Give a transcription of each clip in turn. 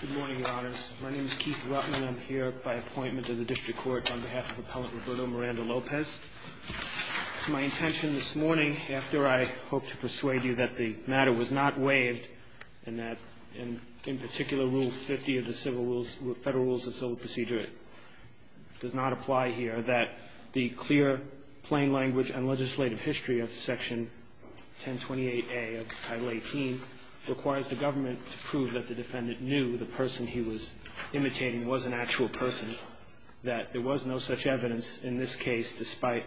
Good morning, Your Honors. My name is Keith Ruttman. I'm here by appointment to the District Court on behalf of Appellant Roberto Miranda-Lopez. It's my intention this morning, after I hope to persuade you that the matter was not waived and that in particular Rule 50 of the Federal Rules of Civil Procedure does not apply here, that the clear, plain language and legislative history of Section 1028A of Title 18 requires the government to prove that the defendant knew the person he was imitating was an actual person, that there was no such evidence in this case despite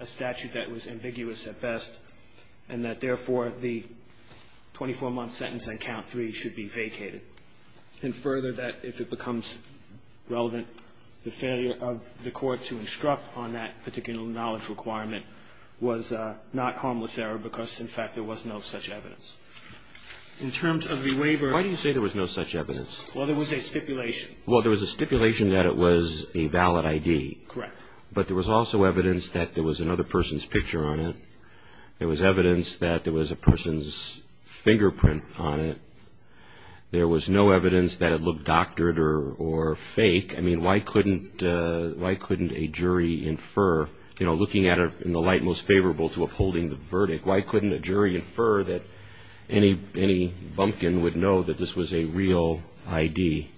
a statute that was ambiguous at best, and that therefore the 24-month sentence on Count 3 should be vacated. And further, that if it becomes relevant, the failure of the Court to instruct on that particular knowledge requirement was not harmless error because, in fact, there was no such evidence. In terms of the waiver of ---- Why do you say there was no such evidence? Well, there was a stipulation. Well, there was a stipulation that it was a valid ID. Correct. But there was also evidence that there was another person's picture on it. There was evidence that there was a person's fingerprint on it. There was no evidence that it looked doctored or fake. I mean, why couldn't a jury infer, you know, looking at it in the light most favorable to upholding the verdict, why couldn't a jury infer that any bumpkin would know that this was a real ID?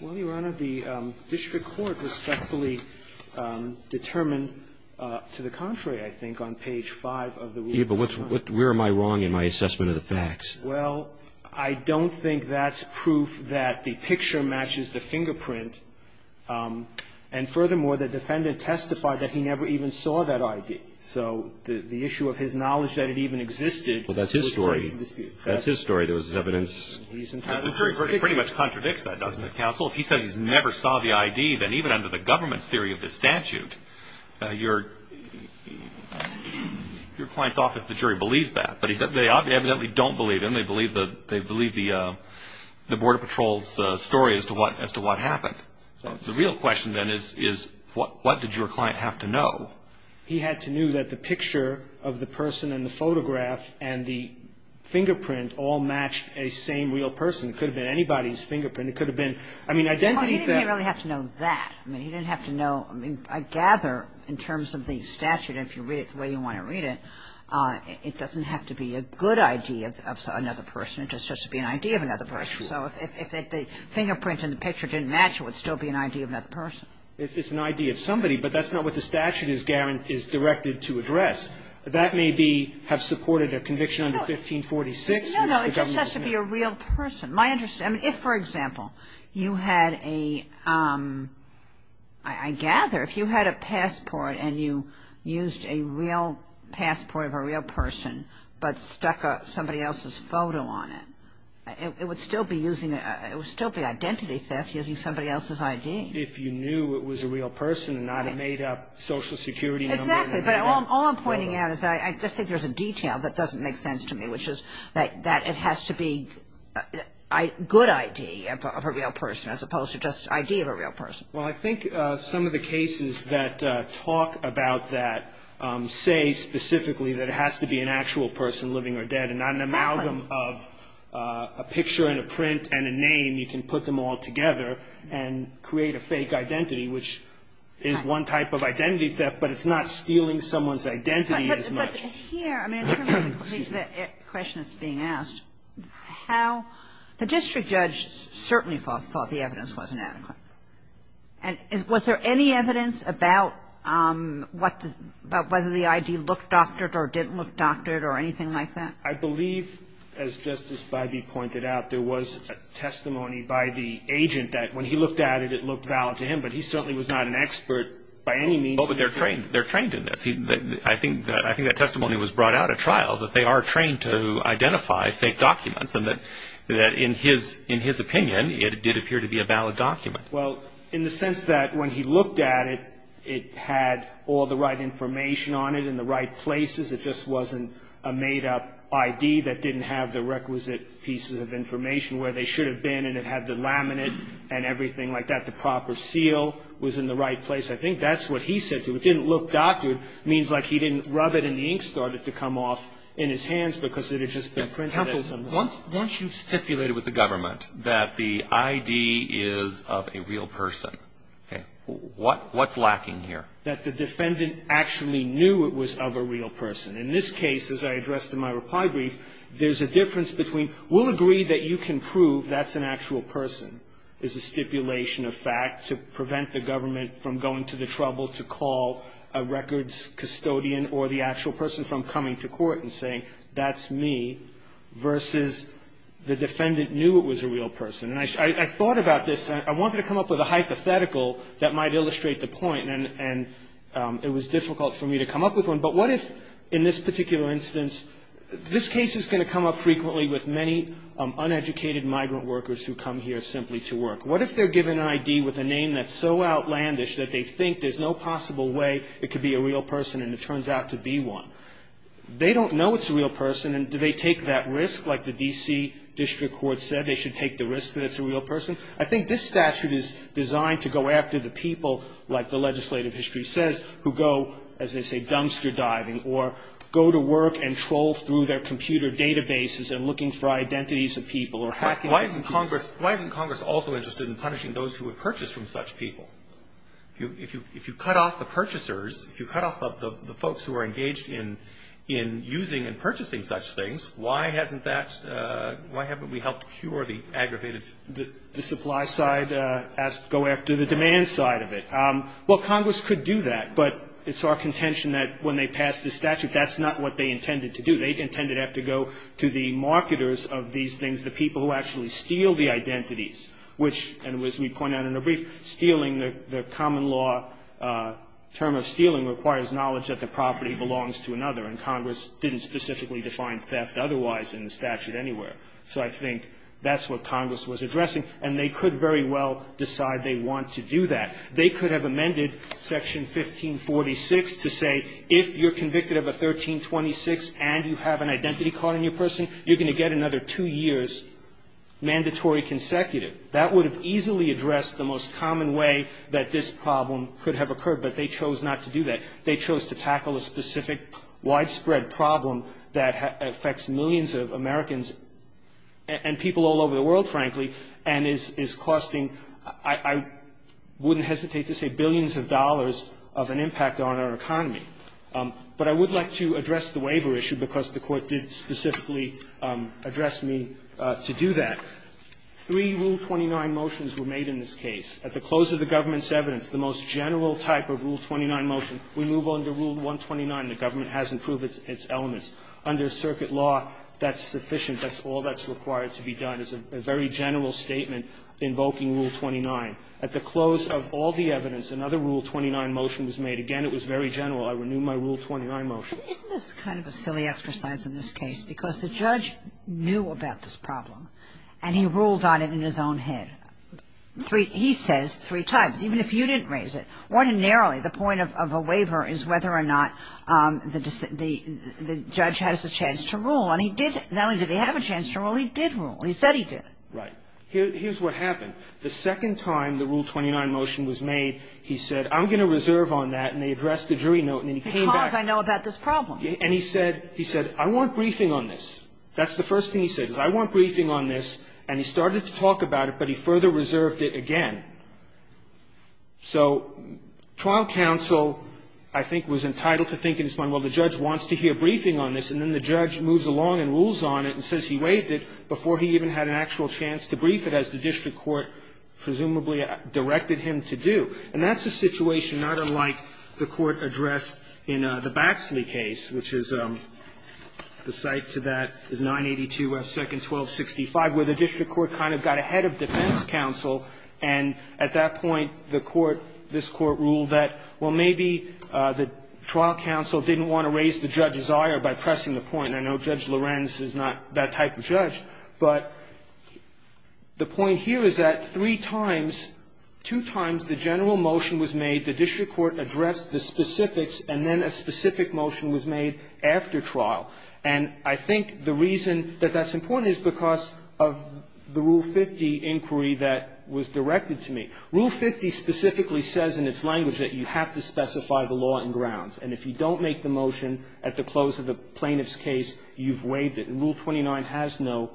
Well, Your Honor, the district court respectfully determined to the contrary, I think, on page 5 of the rule. But where am I wrong in my assessment of the facts? Well, I don't think that's proof that the picture matches the fingerprint. And furthermore, the defendant testified that he never even saw that ID. So the issue of his knowledge that it even existed was a case of dispute. Well, that's his story. That's his story. There was evidence. The jury pretty much contradicts that, doesn't it, counsel? If he says he never saw the ID, then even under the government's theory of this statute, your client's office, the jury, believes that. But they evidently don't believe him. They believe the Border Patrol's story as to what happened. The real question, then, is what did your client have to know? He had to know that the picture of the person in the photograph and the fingerprint all matched a same real person. It could have been anybody's fingerprint. It could have been, I mean, identity theft. Well, he didn't really have to know that. I mean, he didn't have to know. I mean, I gather in terms of the statute, if you read it the way you want to read it, it doesn't have to be a good ID of another person. It just has to be an ID of another person. So if the fingerprint and the picture didn't match, it would still be an ID of another person. It's an ID of somebody, but that's not what the statute is directed to address. That may be, have supported a conviction under 1546. No, no. It just has to be a real person. My understanding, if, for example, you had a – I gather if you had a passport and you used a real passport of a real person but stuck somebody else's photo on it, it would still be using – it would still be identity theft using somebody else's ID. If you knew it was a real person and not a made-up Social Security number. Exactly. But all I'm pointing out is that I just think there's a detail that doesn't make sense to me, which is that it has to be good ID of a real person as opposed to just ID of a real person. Well, I think some of the cases that talk about that say specifically that it has to be an actual person, living or dead, and not an amalgam of a picture and a print and a name. You can put them all together and create a fake identity, which is one type of identity theft, but it's not stealing someone's identity as much. But here, I mean, in terms of the question that's being asked, how – the district judge certainly thought the evidence wasn't adequate. And was there any evidence about whether the ID looked doctored or didn't look doctored or anything like that? I believe, as Justice Bybee pointed out, there was testimony by the agent that when he looked at it, it looked valid to him, but he certainly was not an expert by any means. But they're trained. They're trained in this. I think that testimony was brought out at trial, that they are trained to identify fake documents and that in his opinion, it did appear to be a valid document. Well, in the sense that when he looked at it, it had all the right information on it in the right places. It just wasn't a made-up ID that didn't have the requisite pieces of information where they should have been, and it had the laminate and everything like that. The proper seal was in the right place. I think that's what he said, too. It didn't look doctored means like he didn't rub it and the ink started to come off in his hands because it had just been printed as something else. Once you've stipulated with the government that the ID is of a real person, okay, what's lacking here? That the defendant actually knew it was of a real person. In this case, as I addressed in my reply brief, there's a difference between we'll agree that you can prove that's an actual person is a stipulation of fact to prevent the government from going to the trouble to call a records custodian or the actual person from coming to court and saying that's me versus the defendant knew it was a real person. And I thought about this. I wanted to come up with a hypothetical that might illustrate the point, and it was difficult for me to come up with one. But what if, in this particular instance, this case is going to come up frequently with many uneducated migrant workers who come here simply to work. What if they're given an ID with a name that's so outlandish that they think there's no possible way it could be a real person, and it turns out to be one? They don't know it's a real person, and do they take that risk, like the D.C. District Court said they should take the risk that it's a real person? I think this statute is designed to go after the people, like the legislative history says, who go, as they say, dumpster diving, or go to work and troll through their computer databases and looking for identities of people or hacking. Why isn't Congress also interested in punishing those who were purchased from such people? If you cut off the purchasers, if you cut off the folks who are engaged in using and purchasing such things, why hasn't that why haven't we helped cure the aggravated The supply side has to go after the demand side of it. Well, Congress could do that, but it's our contention that when they pass this statute, that's not what they intended to do. They intended to have to go to the marketers of these things, the people who actually steal the identities, which, and as we pointed out in a brief, stealing, the common law term of stealing requires knowledge that the property belongs to another, and Congress didn't specifically define theft otherwise in the statute anywhere. So I think that's what Congress was addressing, and they could very well decide they want to do that. They could have amended Section 1546 to say if you're convicted of a 1326 and you have an identity card on your person, you're going to get another two years mandatory consecutive. That would have easily addressed the most common way that this problem could have occurred, but they chose not to do that. They chose to tackle a specific widespread problem that affects millions of Americans and people all over the world, frankly, and is costing, I wouldn't hesitate to say billions of dollars of an impact on our economy. But I would like to address the waiver issue because the Court did specifically address me to do that. Three Rule 29 motions were made in this case. At the close of the government's evidence, the most general type of Rule 29 motion, we move on to Rule 129. The government has improved its elements. Under circuit law, that's sufficient. That's all that's required to be done is a very general statement invoking Rule 29. At the close of all the evidence, another Rule 29 motion was made. Again, it was very general. I renew my Rule 29 motion. But isn't this kind of a silly exercise in this case? Because the judge knew about this problem, and he ruled on it in his own head. He says three times, even if you didn't raise it, ordinarily the point of a waiver is whether or not the judge has a chance to rule. And he did. Not only did he have a chance to rule, he did rule. He said he did. Right. Here's what happened. The second time the Rule 29 motion was made, he said, I'm going to reserve on that, and they addressed the jury note, and then he came back. And he said, he said, I want briefing on this. That's the first thing he said, is I want briefing on this. And he started to talk about it, but he further reserved it again. So trial counsel, I think, was entitled to think and respond, well, the judge wants to hear briefing on this, and then the judge moves along and rules on it and says he waived it before he even had an actual chance to brief it, as the district court presumably directed him to do. And that's a situation not unlike the court addressed in the Baxley case, which is the site to that is 982 F. 2nd 1265, where the district court kind of got ahead of defense counsel, and at that point the court, this Court ruled that, well, maybe the trial counsel didn't want to raise the judge's ire by pressing the point. I know Judge Lorenz is not that type of judge, but the point here is that three rule motion was made, the district court addressed the specifics, and then a specific motion was made after trial. And I think the reason that that's important is because of the Rule 50 inquiry that was directed to me. Rule 50 specifically says in its language that you have to specify the law and grounds. And if you don't make the motion at the close of the plaintiff's case, you've waived it. And Rule 29 has no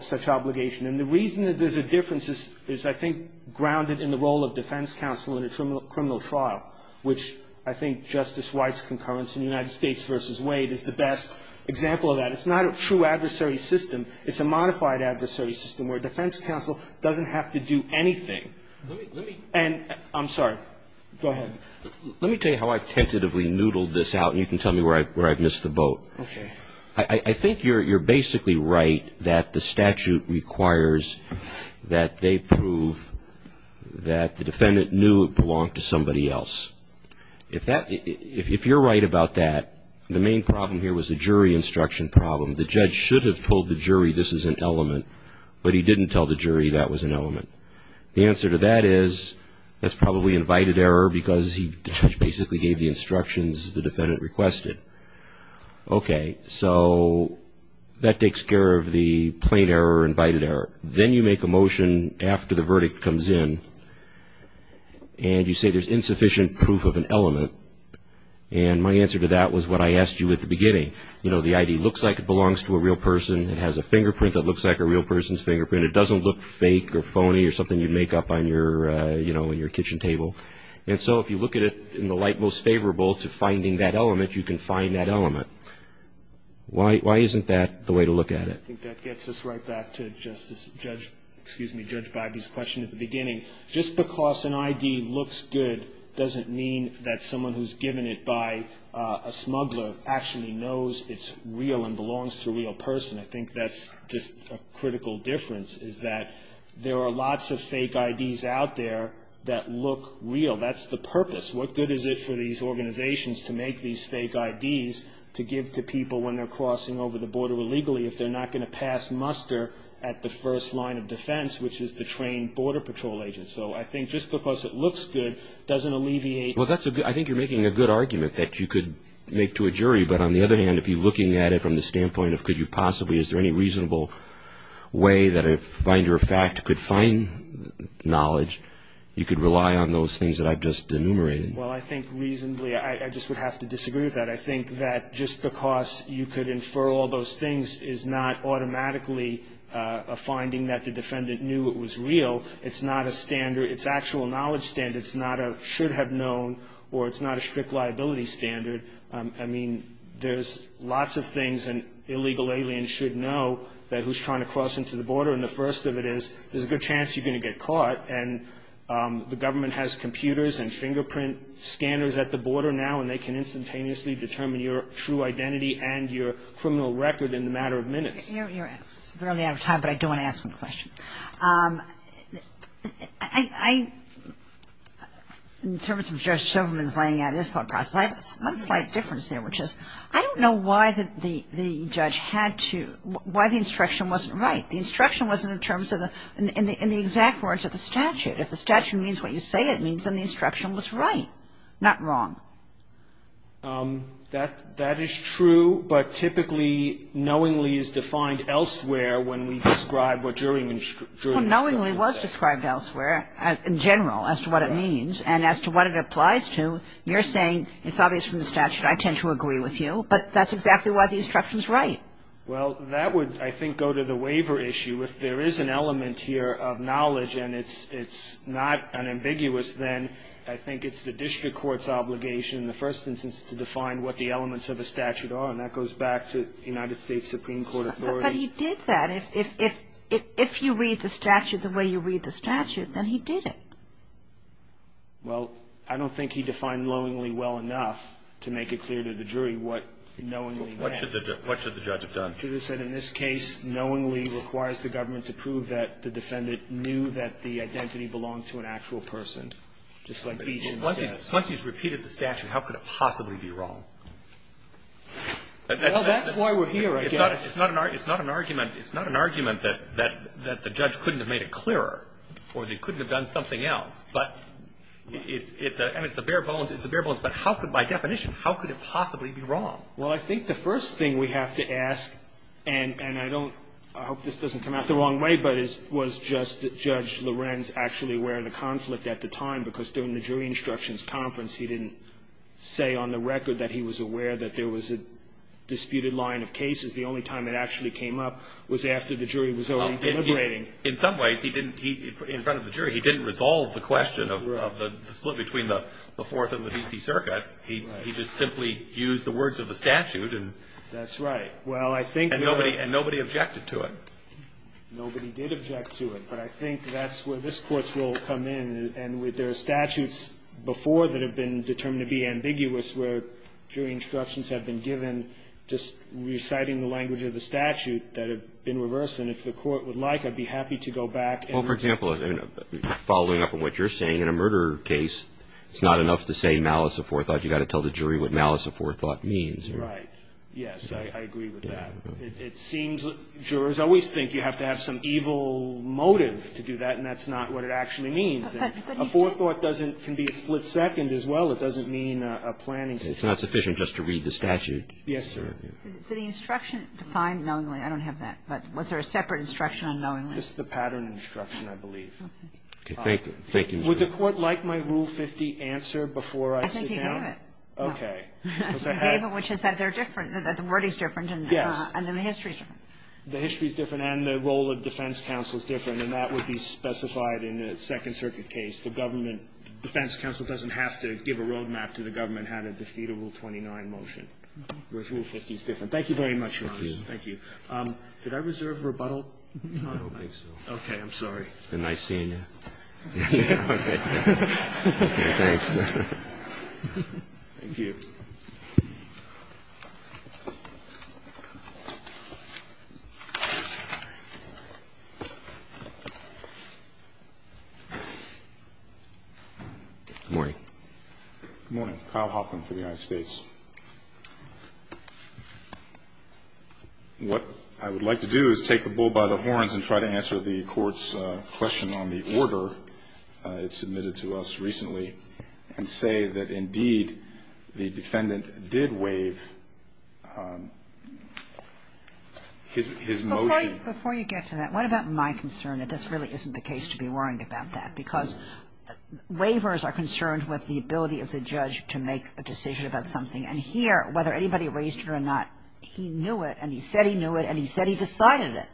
such obligation. And the reason that there's a difference is, I think, grounded in the role of defense counsel in a criminal trial, which I think Justice Wright's concurrence in United States v. Wade is the best example of that. It's not a true adversary system. It's a modified adversary system where defense counsel doesn't have to do anything. And I'm sorry. Go ahead. Let me tell you how I've tentatively noodled this out, and you can tell me where I've missed the boat. Okay. I think you're basically right that the statute requires that they prove that the defendant knew it belonged to somebody else. If you're right about that, the main problem here was a jury instruction problem. The judge should have told the jury this is an element, but he didn't tell the jury that was an element. The answer to that is that's probably invited error because the judge basically gave the instructions the defendant requested. Okay. So that takes care of the plain error or invited error. Then you make a motion after the verdict comes in, and you say there's insufficient proof of an element. And my answer to that was what I asked you at the beginning. You know, the ID looks like it belongs to a real person. It has a fingerprint that looks like a real person's fingerprint. It doesn't look fake or phony or something you'd make up on your kitchen table. And so if you look at it in the light most favorable to finding that element, you can find that element. Why isn't that the way to look at it? I think that gets us right back to Judge Bobbie's question at the beginning. Just because an ID looks good doesn't mean that someone who's given it by a smuggler actually knows it's real and belongs to a real person. I think that's just a critical difference is that there are lots of fake IDs out there that look real. That's the purpose. What good is it for these organizations to make these fake IDs to give to people when they're crossing over the border illegally if they're not going to pass muster at the first line of defense, which is the trained border patrol agent? So I think just because it looks good doesn't alleviate. Well, I think you're making a good argument that you could make to a jury. But on the other hand, if you're looking at it from the standpoint of could you possibly, is there any reasonable way that a finder of fact could find knowledge, you could rely on those things that I've just enumerated? Well, I think reasonably I just would have to disagree with that. I think that just because you could infer all those things is not automatically a finding that the defendant knew it was real. It's not a standard. It's actual knowledge standard. It's not a should have known or it's not a strict liability standard. I mean, there's lots of things an illegal alien should know that who's trying to cross into the border, and the first of it is there's a good chance you're going to get caught. And the government has computers and fingerprint scanners at the border now, and they can instantaneously determine your true identity and your criminal record in a matter of minutes. You're severely out of time, but I do want to ask one question. I, in terms of Judge Silverman's laying out his thought process, I have a slight difference there, which is I don't know why the judge had to, why the instruction wasn't right. The instruction wasn't in terms of the, in the exact words of the statute. If the statute means what you say it means, then the instruction was right, not wrong. That is true, but typically knowingly is defined elsewhere when we describe what jury means. Well, knowingly was described elsewhere in general as to what it means, and as to what it applies to, you're saying it's obvious from the statute I tend to agree with you, but that's exactly why the instruction's right. Well, that would, I think, go to the waiver issue. If there is an element here of knowledge and it's not unambiguous, then I think it's the district court's obligation in the first instance to define what the elements of a statute are, and that goes back to the United States Supreme Court authority. But he did that. If you read the statute the way you read the statute, then he did it. Well, I don't think he defined knowingly well enough to make it clear to the jury what knowingly meant. What should the judge have done? In this case, knowingly requires the government to prove that the defendant knew that the identity belonged to an actual person, just like each instance. Once he's repeated the statute, how could it possibly be wrong? Well, that's why we're here, I guess. It's not an argument. It's not an argument that the judge couldn't have made it clearer or they couldn't have done something else, but it's a bare bones. It's a bare bones. But how could, by definition, how could it possibly be wrong? Well, I think the first thing we have to ask, and I don't, I hope this doesn't come out the wrong way, but it was just Judge Lorenz actually aware of the conflict at the time, because during the jury instructions conference, he didn't say on the record that he was aware that there was a disputed line of cases. The only time it actually came up was after the jury was already deliberating. In some ways, he didn't, in front of the jury, he didn't resolve the question of the split between the Fourth and the D.C. Circuits. He just simply used the words of the statute and nobody objected to it. Nobody did object to it. But I think that's where this Court's role will come in. And there are statutes before that have been determined to be ambiguous, where jury instructions have been given just reciting the language of the statute that have been reversed. And if the Court would like, I'd be happy to go back. Well, for example, following up on what you're saying, in a murder case, it's not enough to say malice of forethought. You've got to tell the jury what malice of forethought means. Right. Yes, I agree with that. It seems jurors always think you have to have some evil motive to do that, and that's not what it actually means. A forethought doesn't can be a split second as well. It doesn't mean a planning situation. It's not sufficient just to read the statute. Yes, sir. Did the instruction define knowingly? I don't have that. But was there a separate instruction on knowingly? This is the pattern instruction, I believe. Okay. Thank you. Would the Court like my Rule 50 answer before I sit down? I think you have it. Okay. Because I have it. Which is that they're different. The wording is different. Yes. And then the history is different. The history is different, and the role of defense counsel is different, and that would be specified in a Second Circuit case. The government defense counsel doesn't have to give a road map to the government how to defeat a Rule 29 motion, whereas Rule 50 is different. Thank you very much, Your Honor. Thank you. Thank you. Did I reserve rebuttal? I don't think so. Okay. I'm sorry. It's been nice seeing you. Yeah. Okay. Thanks. Thank you. Good morning. Good morning. Kyle Hoffman for the United States. What I would like to do is take the bull by the horns and try to answer the Court's question on the order it submitted to us recently and say that, indeed, the defendant did waive his motion. Before you get to that, what about my concern that this really isn't the case to be worrying about that? Because waivers are concerned with the ability of the judge to make a decision about something and hear whether anybody raised it or not. He knew it, and he said he knew it, and he said he decided it.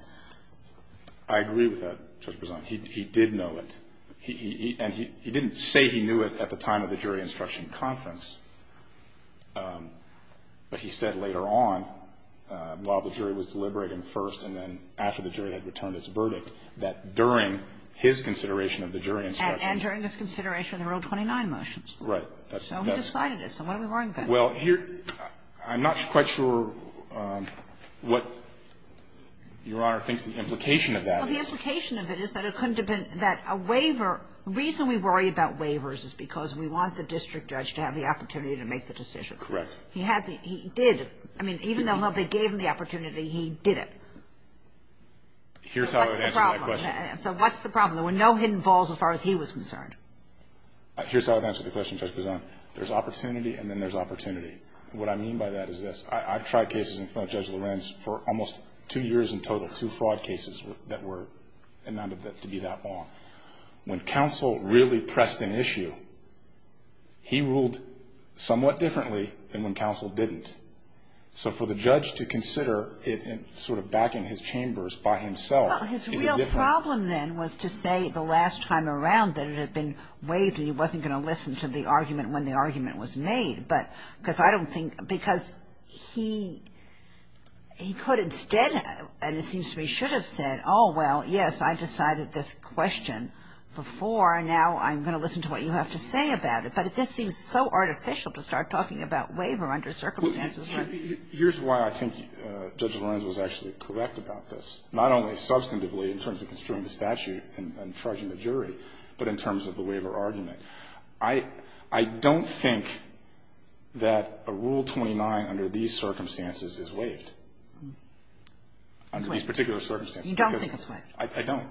I agree with that, Judge Bresant. He did know it. And he didn't say he knew it at the time of the jury instruction conference, but he said later on, while the jury was deliberating first and then after the jury had returned its verdict, that during his consideration of the jury instruction. And during his consideration of the Rule 29 motions. Right. So he decided it. So what are we worrying about? Well, here – I'm not quite sure what Your Honor thinks the implication of that is. Well, the implication of it is that it couldn't have been – that a waiver – the reason we worry about waivers is because we want the district judge to have the opportunity to make the decision. Correct. He had the – he did. I mean, even though nobody gave him the opportunity, he did it. Here's how I would answer that question. So what's the problem? There were no hidden balls as far as he was concerned. Here's how I would answer the question, Judge Bison. There's opportunity and then there's opportunity. And what I mean by that is this. I've tried cases in front of Judge Lorenz for almost two years in total, two fraud cases that were – amounted to be that long. When counsel really pressed an issue, he ruled somewhat differently than when counsel didn't. So for the judge to consider it sort of back in his chambers by himself is a different thing. The problem then was to say the last time around that it had been waived and he wasn't going to listen to the argument when the argument was made. But – because I don't think – because he could instead – and it seems to me he should have said, oh, well, yes, I decided this question before. Now I'm going to listen to what you have to say about it. But this seems so artificial to start talking about waiver under circumstances where – Here's why I think Judge Lorenz was actually correct about this. Not only substantively in terms of construing the statute and charging the jury, but in terms of the waiver argument. I don't think that a Rule 29 under these circumstances is waived, under these particular circumstances. You don't think it's waived? I don't.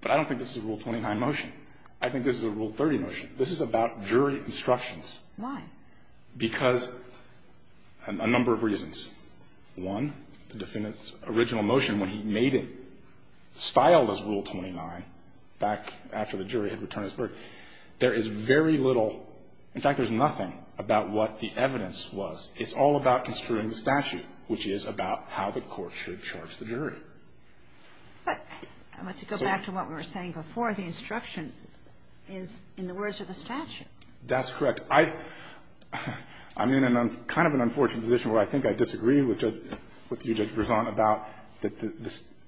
But I don't think this is a Rule 29 motion. I think this is a Rule 30 motion. This is about jury instructions. Why? Because a number of reasons. One, the defendant's original motion when he made it, styled as Rule 29, back after the jury had returned his word, there is very little – in fact, there's nothing about what the evidence was. It's all about construing the statute, which is about how the court should charge the jury. But let's go back to what we were saying before. The instruction is in the words of the statute. That's correct. But I'm in kind of an unfortunate position where I think I disagree with what you, Judge Brisson, about that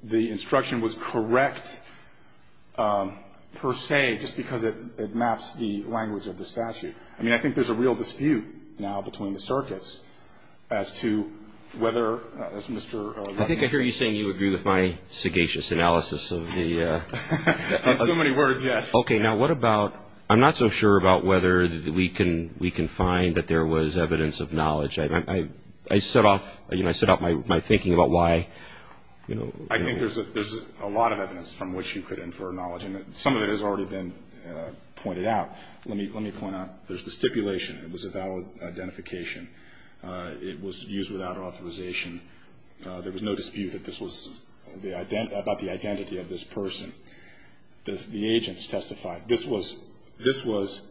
the instruction was correct, per se, just because it maps the language of the statute. I mean, I think there's a real dispute now between the circuits as to whether, as Mr. Rodney mentioned. I think I hear you saying you agree with my sagacious analysis of the – In so many words, yes. Okay. Now, what about – I'm not so sure about whether we can find that there was evidence of knowledge. I set off – I set out my thinking about why – I think there's a lot of evidence from which you could infer knowledge. And some of it has already been pointed out. Let me point out, there's the stipulation. It was a valid identification. It was used without authorization. There was no dispute that this was – about the identity of this person. The agents testified this was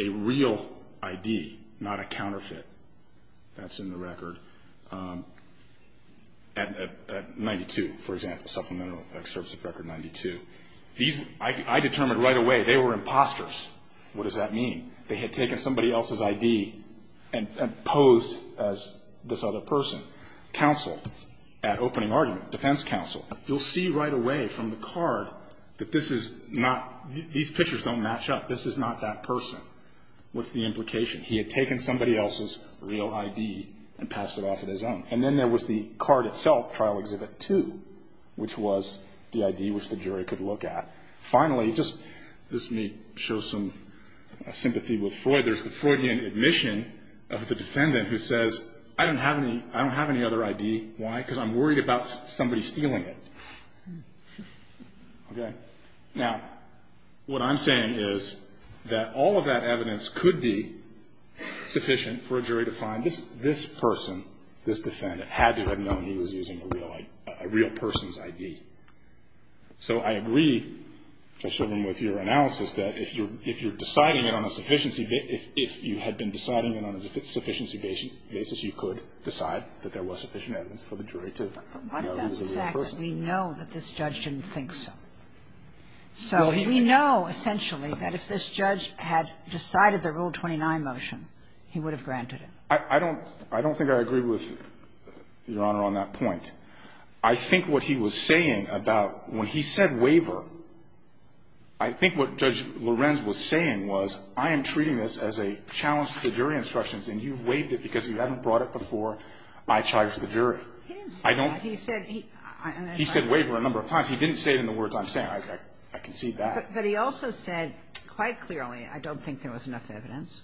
a real ID, not a counterfeit. That's in the record. At 92, for example, Supplemental Excerpts of Record 92. These – I determined right away they were imposters. What does that mean? They had taken somebody else's ID and posed as this other person. Counsel at opening argument, defense counsel. You'll see right away from the card that this is not – these pictures don't match up. This is not that person. What's the implication? He had taken somebody else's real ID and passed it off as his own. And then there was the card itself, Trial Exhibit 2, which was the ID which the jury could look at. Finally, just – this may show some sympathy with Freud. There's the Freudian admission of the defendant who says, I don't have any other ID. Why? Because I'm worried about somebody stealing it. Okay? Now, what I'm saying is that all of that evidence could be sufficient for a jury to find this person, this defendant, had to have known he was using a real ID – a real person's ID. So I agree, Judge Shulman, with your analysis that if you're deciding it on a sufficiency – But that's the fact that we know that this judge didn't think so. So we know, essentially, that if this judge had decided the Rule 29 motion, he would have granted it. I don't – I don't think I agree with Your Honor on that point. I think what he was saying about when he said waiver, I think what Judge Lorenz was saying was, I am treating this as a challenge to the jury instructions, and you've He said waiver a number of times. He didn't say it in the words I'm saying. I concede that. But he also said quite clearly, I don't think there was enough evidence.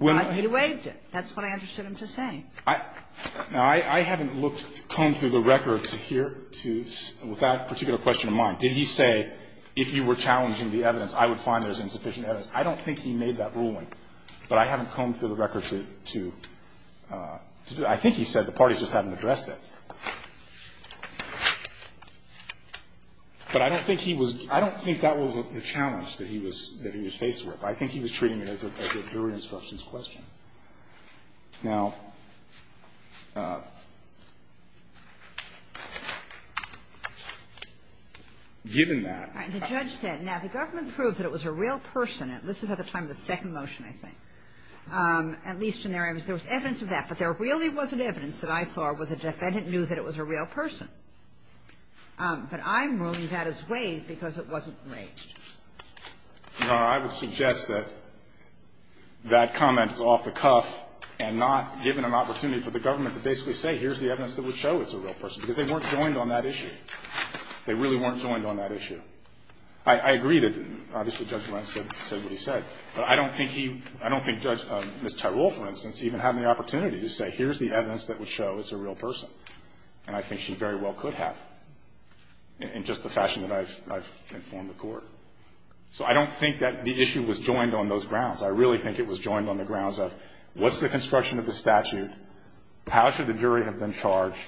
He waived it. That's what I understood him to say. Now, I haven't looked, combed through the record to hear to – with that particular question in mind. Did he say, if you were challenging the evidence, I would find there's insufficient evidence? I don't think he made that ruling, but I haven't combed through the record to – I think he said the parties just haven't addressed it. But I don't think he was – I don't think that was the challenge that he was – that he was faced with. I think he was treating it as a jury instructions question. Now, given that – And the judge said, now, the government proved that it was a real person. This is at the time of the second motion, I think. At least in their evidence, there was evidence of that. But there really wasn't evidence that I saw where the defendant knew that it was a real person. But I'm ruling that as waived because it wasn't waived. No, I would suggest that that comment is off the cuff and not given an opportunity for the government to basically say, here's the evidence that would show it's a real person, because they weren't joined on that issue. They really weren't joined on that issue. I agree that, obviously, Judge Lentz said what he said. But I don't think he – I don't think Judge – Ms. Tyrell, for instance, even having the opportunity to say, here's the evidence that would show it's a real person. And I think she very well could have in just the fashion that I've informed the court. So I don't think that the issue was joined on those grounds. I really think it was joined on the grounds of, what's the construction of the statute? How should the jury have been charged?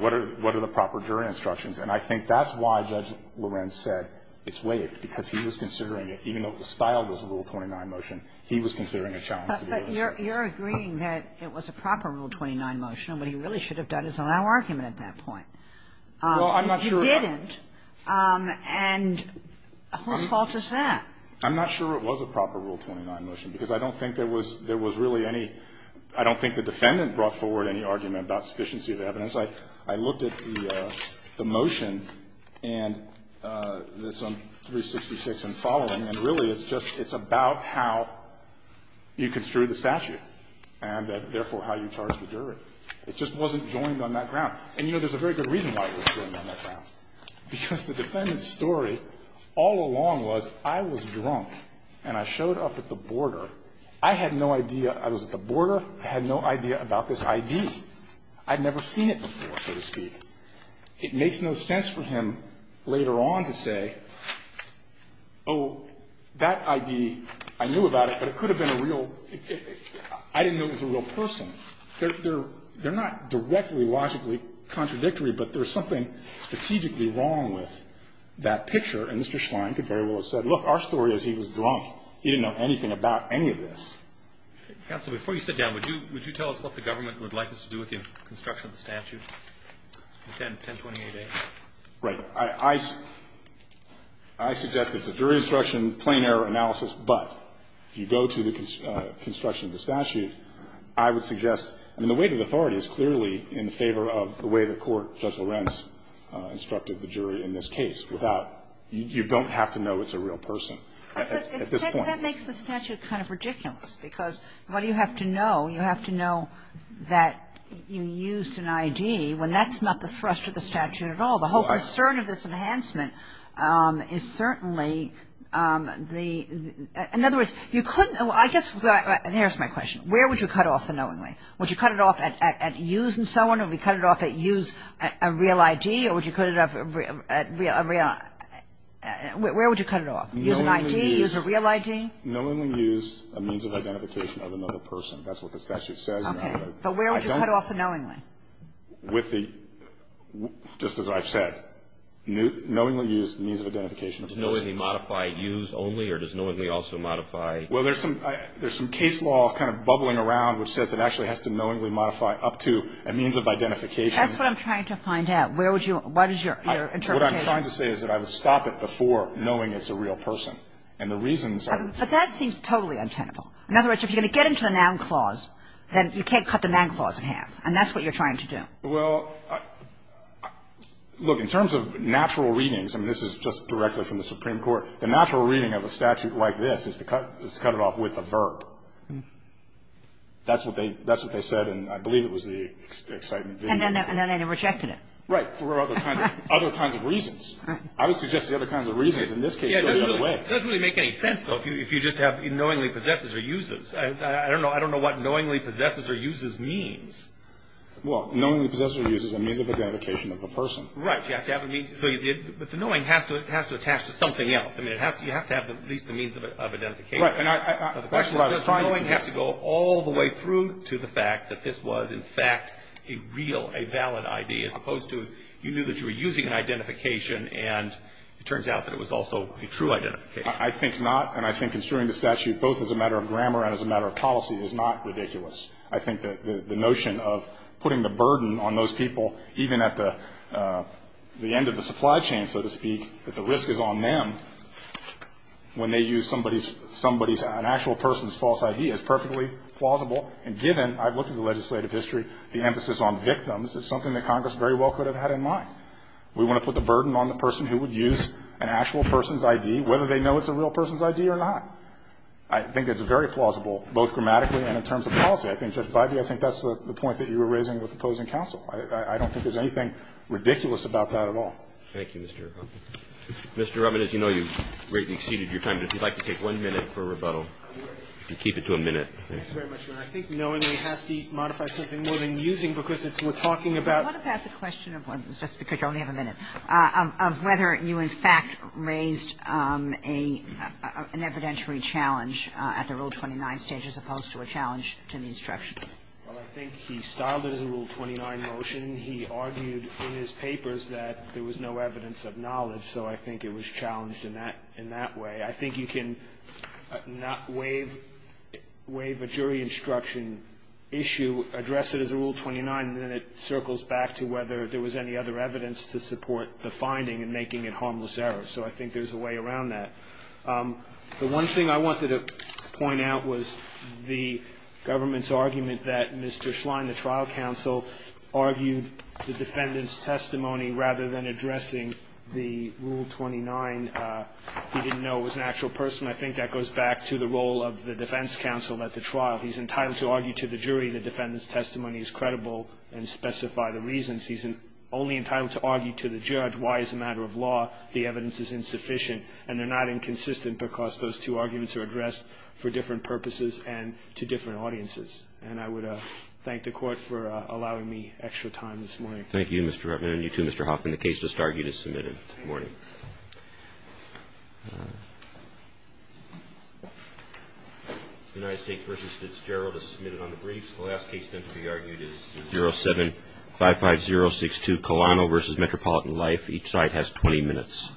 What are the proper jury instructions? And I think that's why Judge Lorenz said it's waived, because he was considering it, even though it was styled as a Rule 29 motion, he was considering it a challenge to the evidence. Kagan. But you're agreeing that it was a proper Rule 29 motion. And what he really should have done is allow argument at that point. Well, I'm not sure. But you didn't. And whose fault is that? I'm not sure it was a proper Rule 29 motion, because I don't think there was really any – I don't think the defendant brought forward any argument about sufficiency of evidence. I looked at the motion, and there's some 366 and following, and really it's just – it's about how you construe the statute, and therefore how you charge the jury. It just wasn't joined on that ground. And, you know, there's a very good reason why it wasn't joined on that ground, because the defendant's story all along was, I was drunk and I showed up at the border. I had no idea I was at the border. I had no idea about this ID. I'd never seen it before, so to speak. It makes no sense for him later on to say, oh, that ID, I knew about it, but it could have been a real – I didn't know it was a real person. They're not directly logically contradictory, but there's something strategically wrong with that picture. And Mr. Schlein could very well have said, look, our story is he was drunk. He didn't know anything about any of this. Counsel, before you sit down, would you tell us what the government would like us to do with the construction of the statute, 1028A? Right. I suggest it's a jury instruction, plain error analysis, but if you go to the construction of the statute, I would suggest – I mean, the weight of the authority is clearly in favor of the way the court, Judge Lorenz, instructed the jury in this case without – you don't have to know it's a real person at this point. I think that makes the statute kind of ridiculous, because what do you have to know? You have to know that you used an ID when that's not the thrust of the statute at all. The whole concern of this enhancement is certainly the – in other words, you couldn't – I guess – and here's my question. Where would you cut off the knowingly? Would you cut it off at use and so on, or would you cut it off at use a real ID, or would you cut it off at real – where would you cut it off? Use an ID? Use a real ID? Knowingly use a means of identification of another person. That's what the statute says. Okay. But where would you cut off the knowingly? With the – just as I've said, knowingly use means of identification. Does knowingly modify use only, or does knowingly also modify? Well, there's some – there's some case law kind of bubbling around which says it actually has to knowingly modify up to a means of identification. That's what I'm trying to find out. Where would you – what is your interpretation? What I'm trying to say is that I would stop it before knowing it's a real person. And the reasons I'm – But that seems totally untenable. In other words, if you're going to get into the noun clause, then you can't cut the noun clause in half, and that's what you're trying to do. Well, look, in terms of natural readings – and this is just directly from the Supreme Court – the natural reading of a statute like this is to cut – is to cut it off with a verb. That's what they – that's what they said, and I believe it was the excitement being – And then they rejected it. Right, for other kinds – other kinds of reasons. I would suggest the other kinds of reasons in this case go the other way. Yeah, it doesn't really make any sense, though, if you just have knowingly possesses or uses. I don't know – I don't know what knowingly possesses or uses means. Well, knowingly possesses or uses a means of identification of a person. Right. You have to have a means – so you – but the knowing has to – it has to attach to something else. I mean, it has to – you have to have at least the means of identification. Right. And I – that's what I was trying to suggest. The question is, does the knowing have to go all the way through to the fact that this was, in fact, a real, a valid ID, as opposed to you knew that you were using an identification and it turns out that it was also a true identification? I think not, and I think construing the statute both as a matter of grammar and as a matter of policy is not ridiculous. I think that the notion of putting the burden on those people, even at the end of the supply chain, so to speak, that the risk is on them when they use somebody's – somebody's – an actual person's false ID is perfectly plausible. And given – I've looked at the legislative history – the emphasis on victims is something that Congress very well could have had in mind. We want to put the burden on the person who would use an actual person's ID, whether they know it's a real person's ID or not. I think it's very plausible, both grammatically and in terms of policy. I think, Judge Bybee, I think that's the point that you were raising with opposing counsel. I don't think there's anything ridiculous about that at all. Thank you, Mr. Rubin. Mr. Rubin, as you know, you've greatly exceeded your time. If you'd like to take one minute for rebuttal, you can keep it to a minute. Thank you very much, Your Honor. I think knowingly has to modify something more than using, because it's – we're talking about – What about the question of – just because you only have a minute – of whether you in fact raised a – an evidentiary challenge at the Rule 29 stage as opposed to a challenge to the instruction? Well, I think he styled it as a Rule 29 motion. He argued in his papers that there was no evidence of knowledge, so I think it was challenged in that – in that way. I think you can not waive – waive a jury instruction issue, address it as a Rule 29, and then it circles back to whether there was any other evidence to support the finding in making it harmless error. So I think there's a way around that. The one thing I wanted to point out was the government's argument that Mr. Schlein, the trial counsel, argued the defendant's testimony rather than addressing the Rule 29. He didn't know it was an actual person. I think that goes back to the role of the defense counsel at the trial. He's entitled to argue to the jury the defendant's testimony is credible and specify the reasons. He's only entitled to argue to the judge why as a matter of law the evidence is insufficient, and they're not inconsistent because those two arguments are addressed for different purposes and to different audiences. And I would thank the Court for allowing me extra time this morning. Thank you, Mr. Hartman. And you too, Mr. Hoffman. The case just argued is submitted. Good morning. Good morning. United States v. Fitzgerald is submitted on the briefs. The last case then to be argued is 0755062, Colano v. Metropolitan Life. Each side has 20 minutes.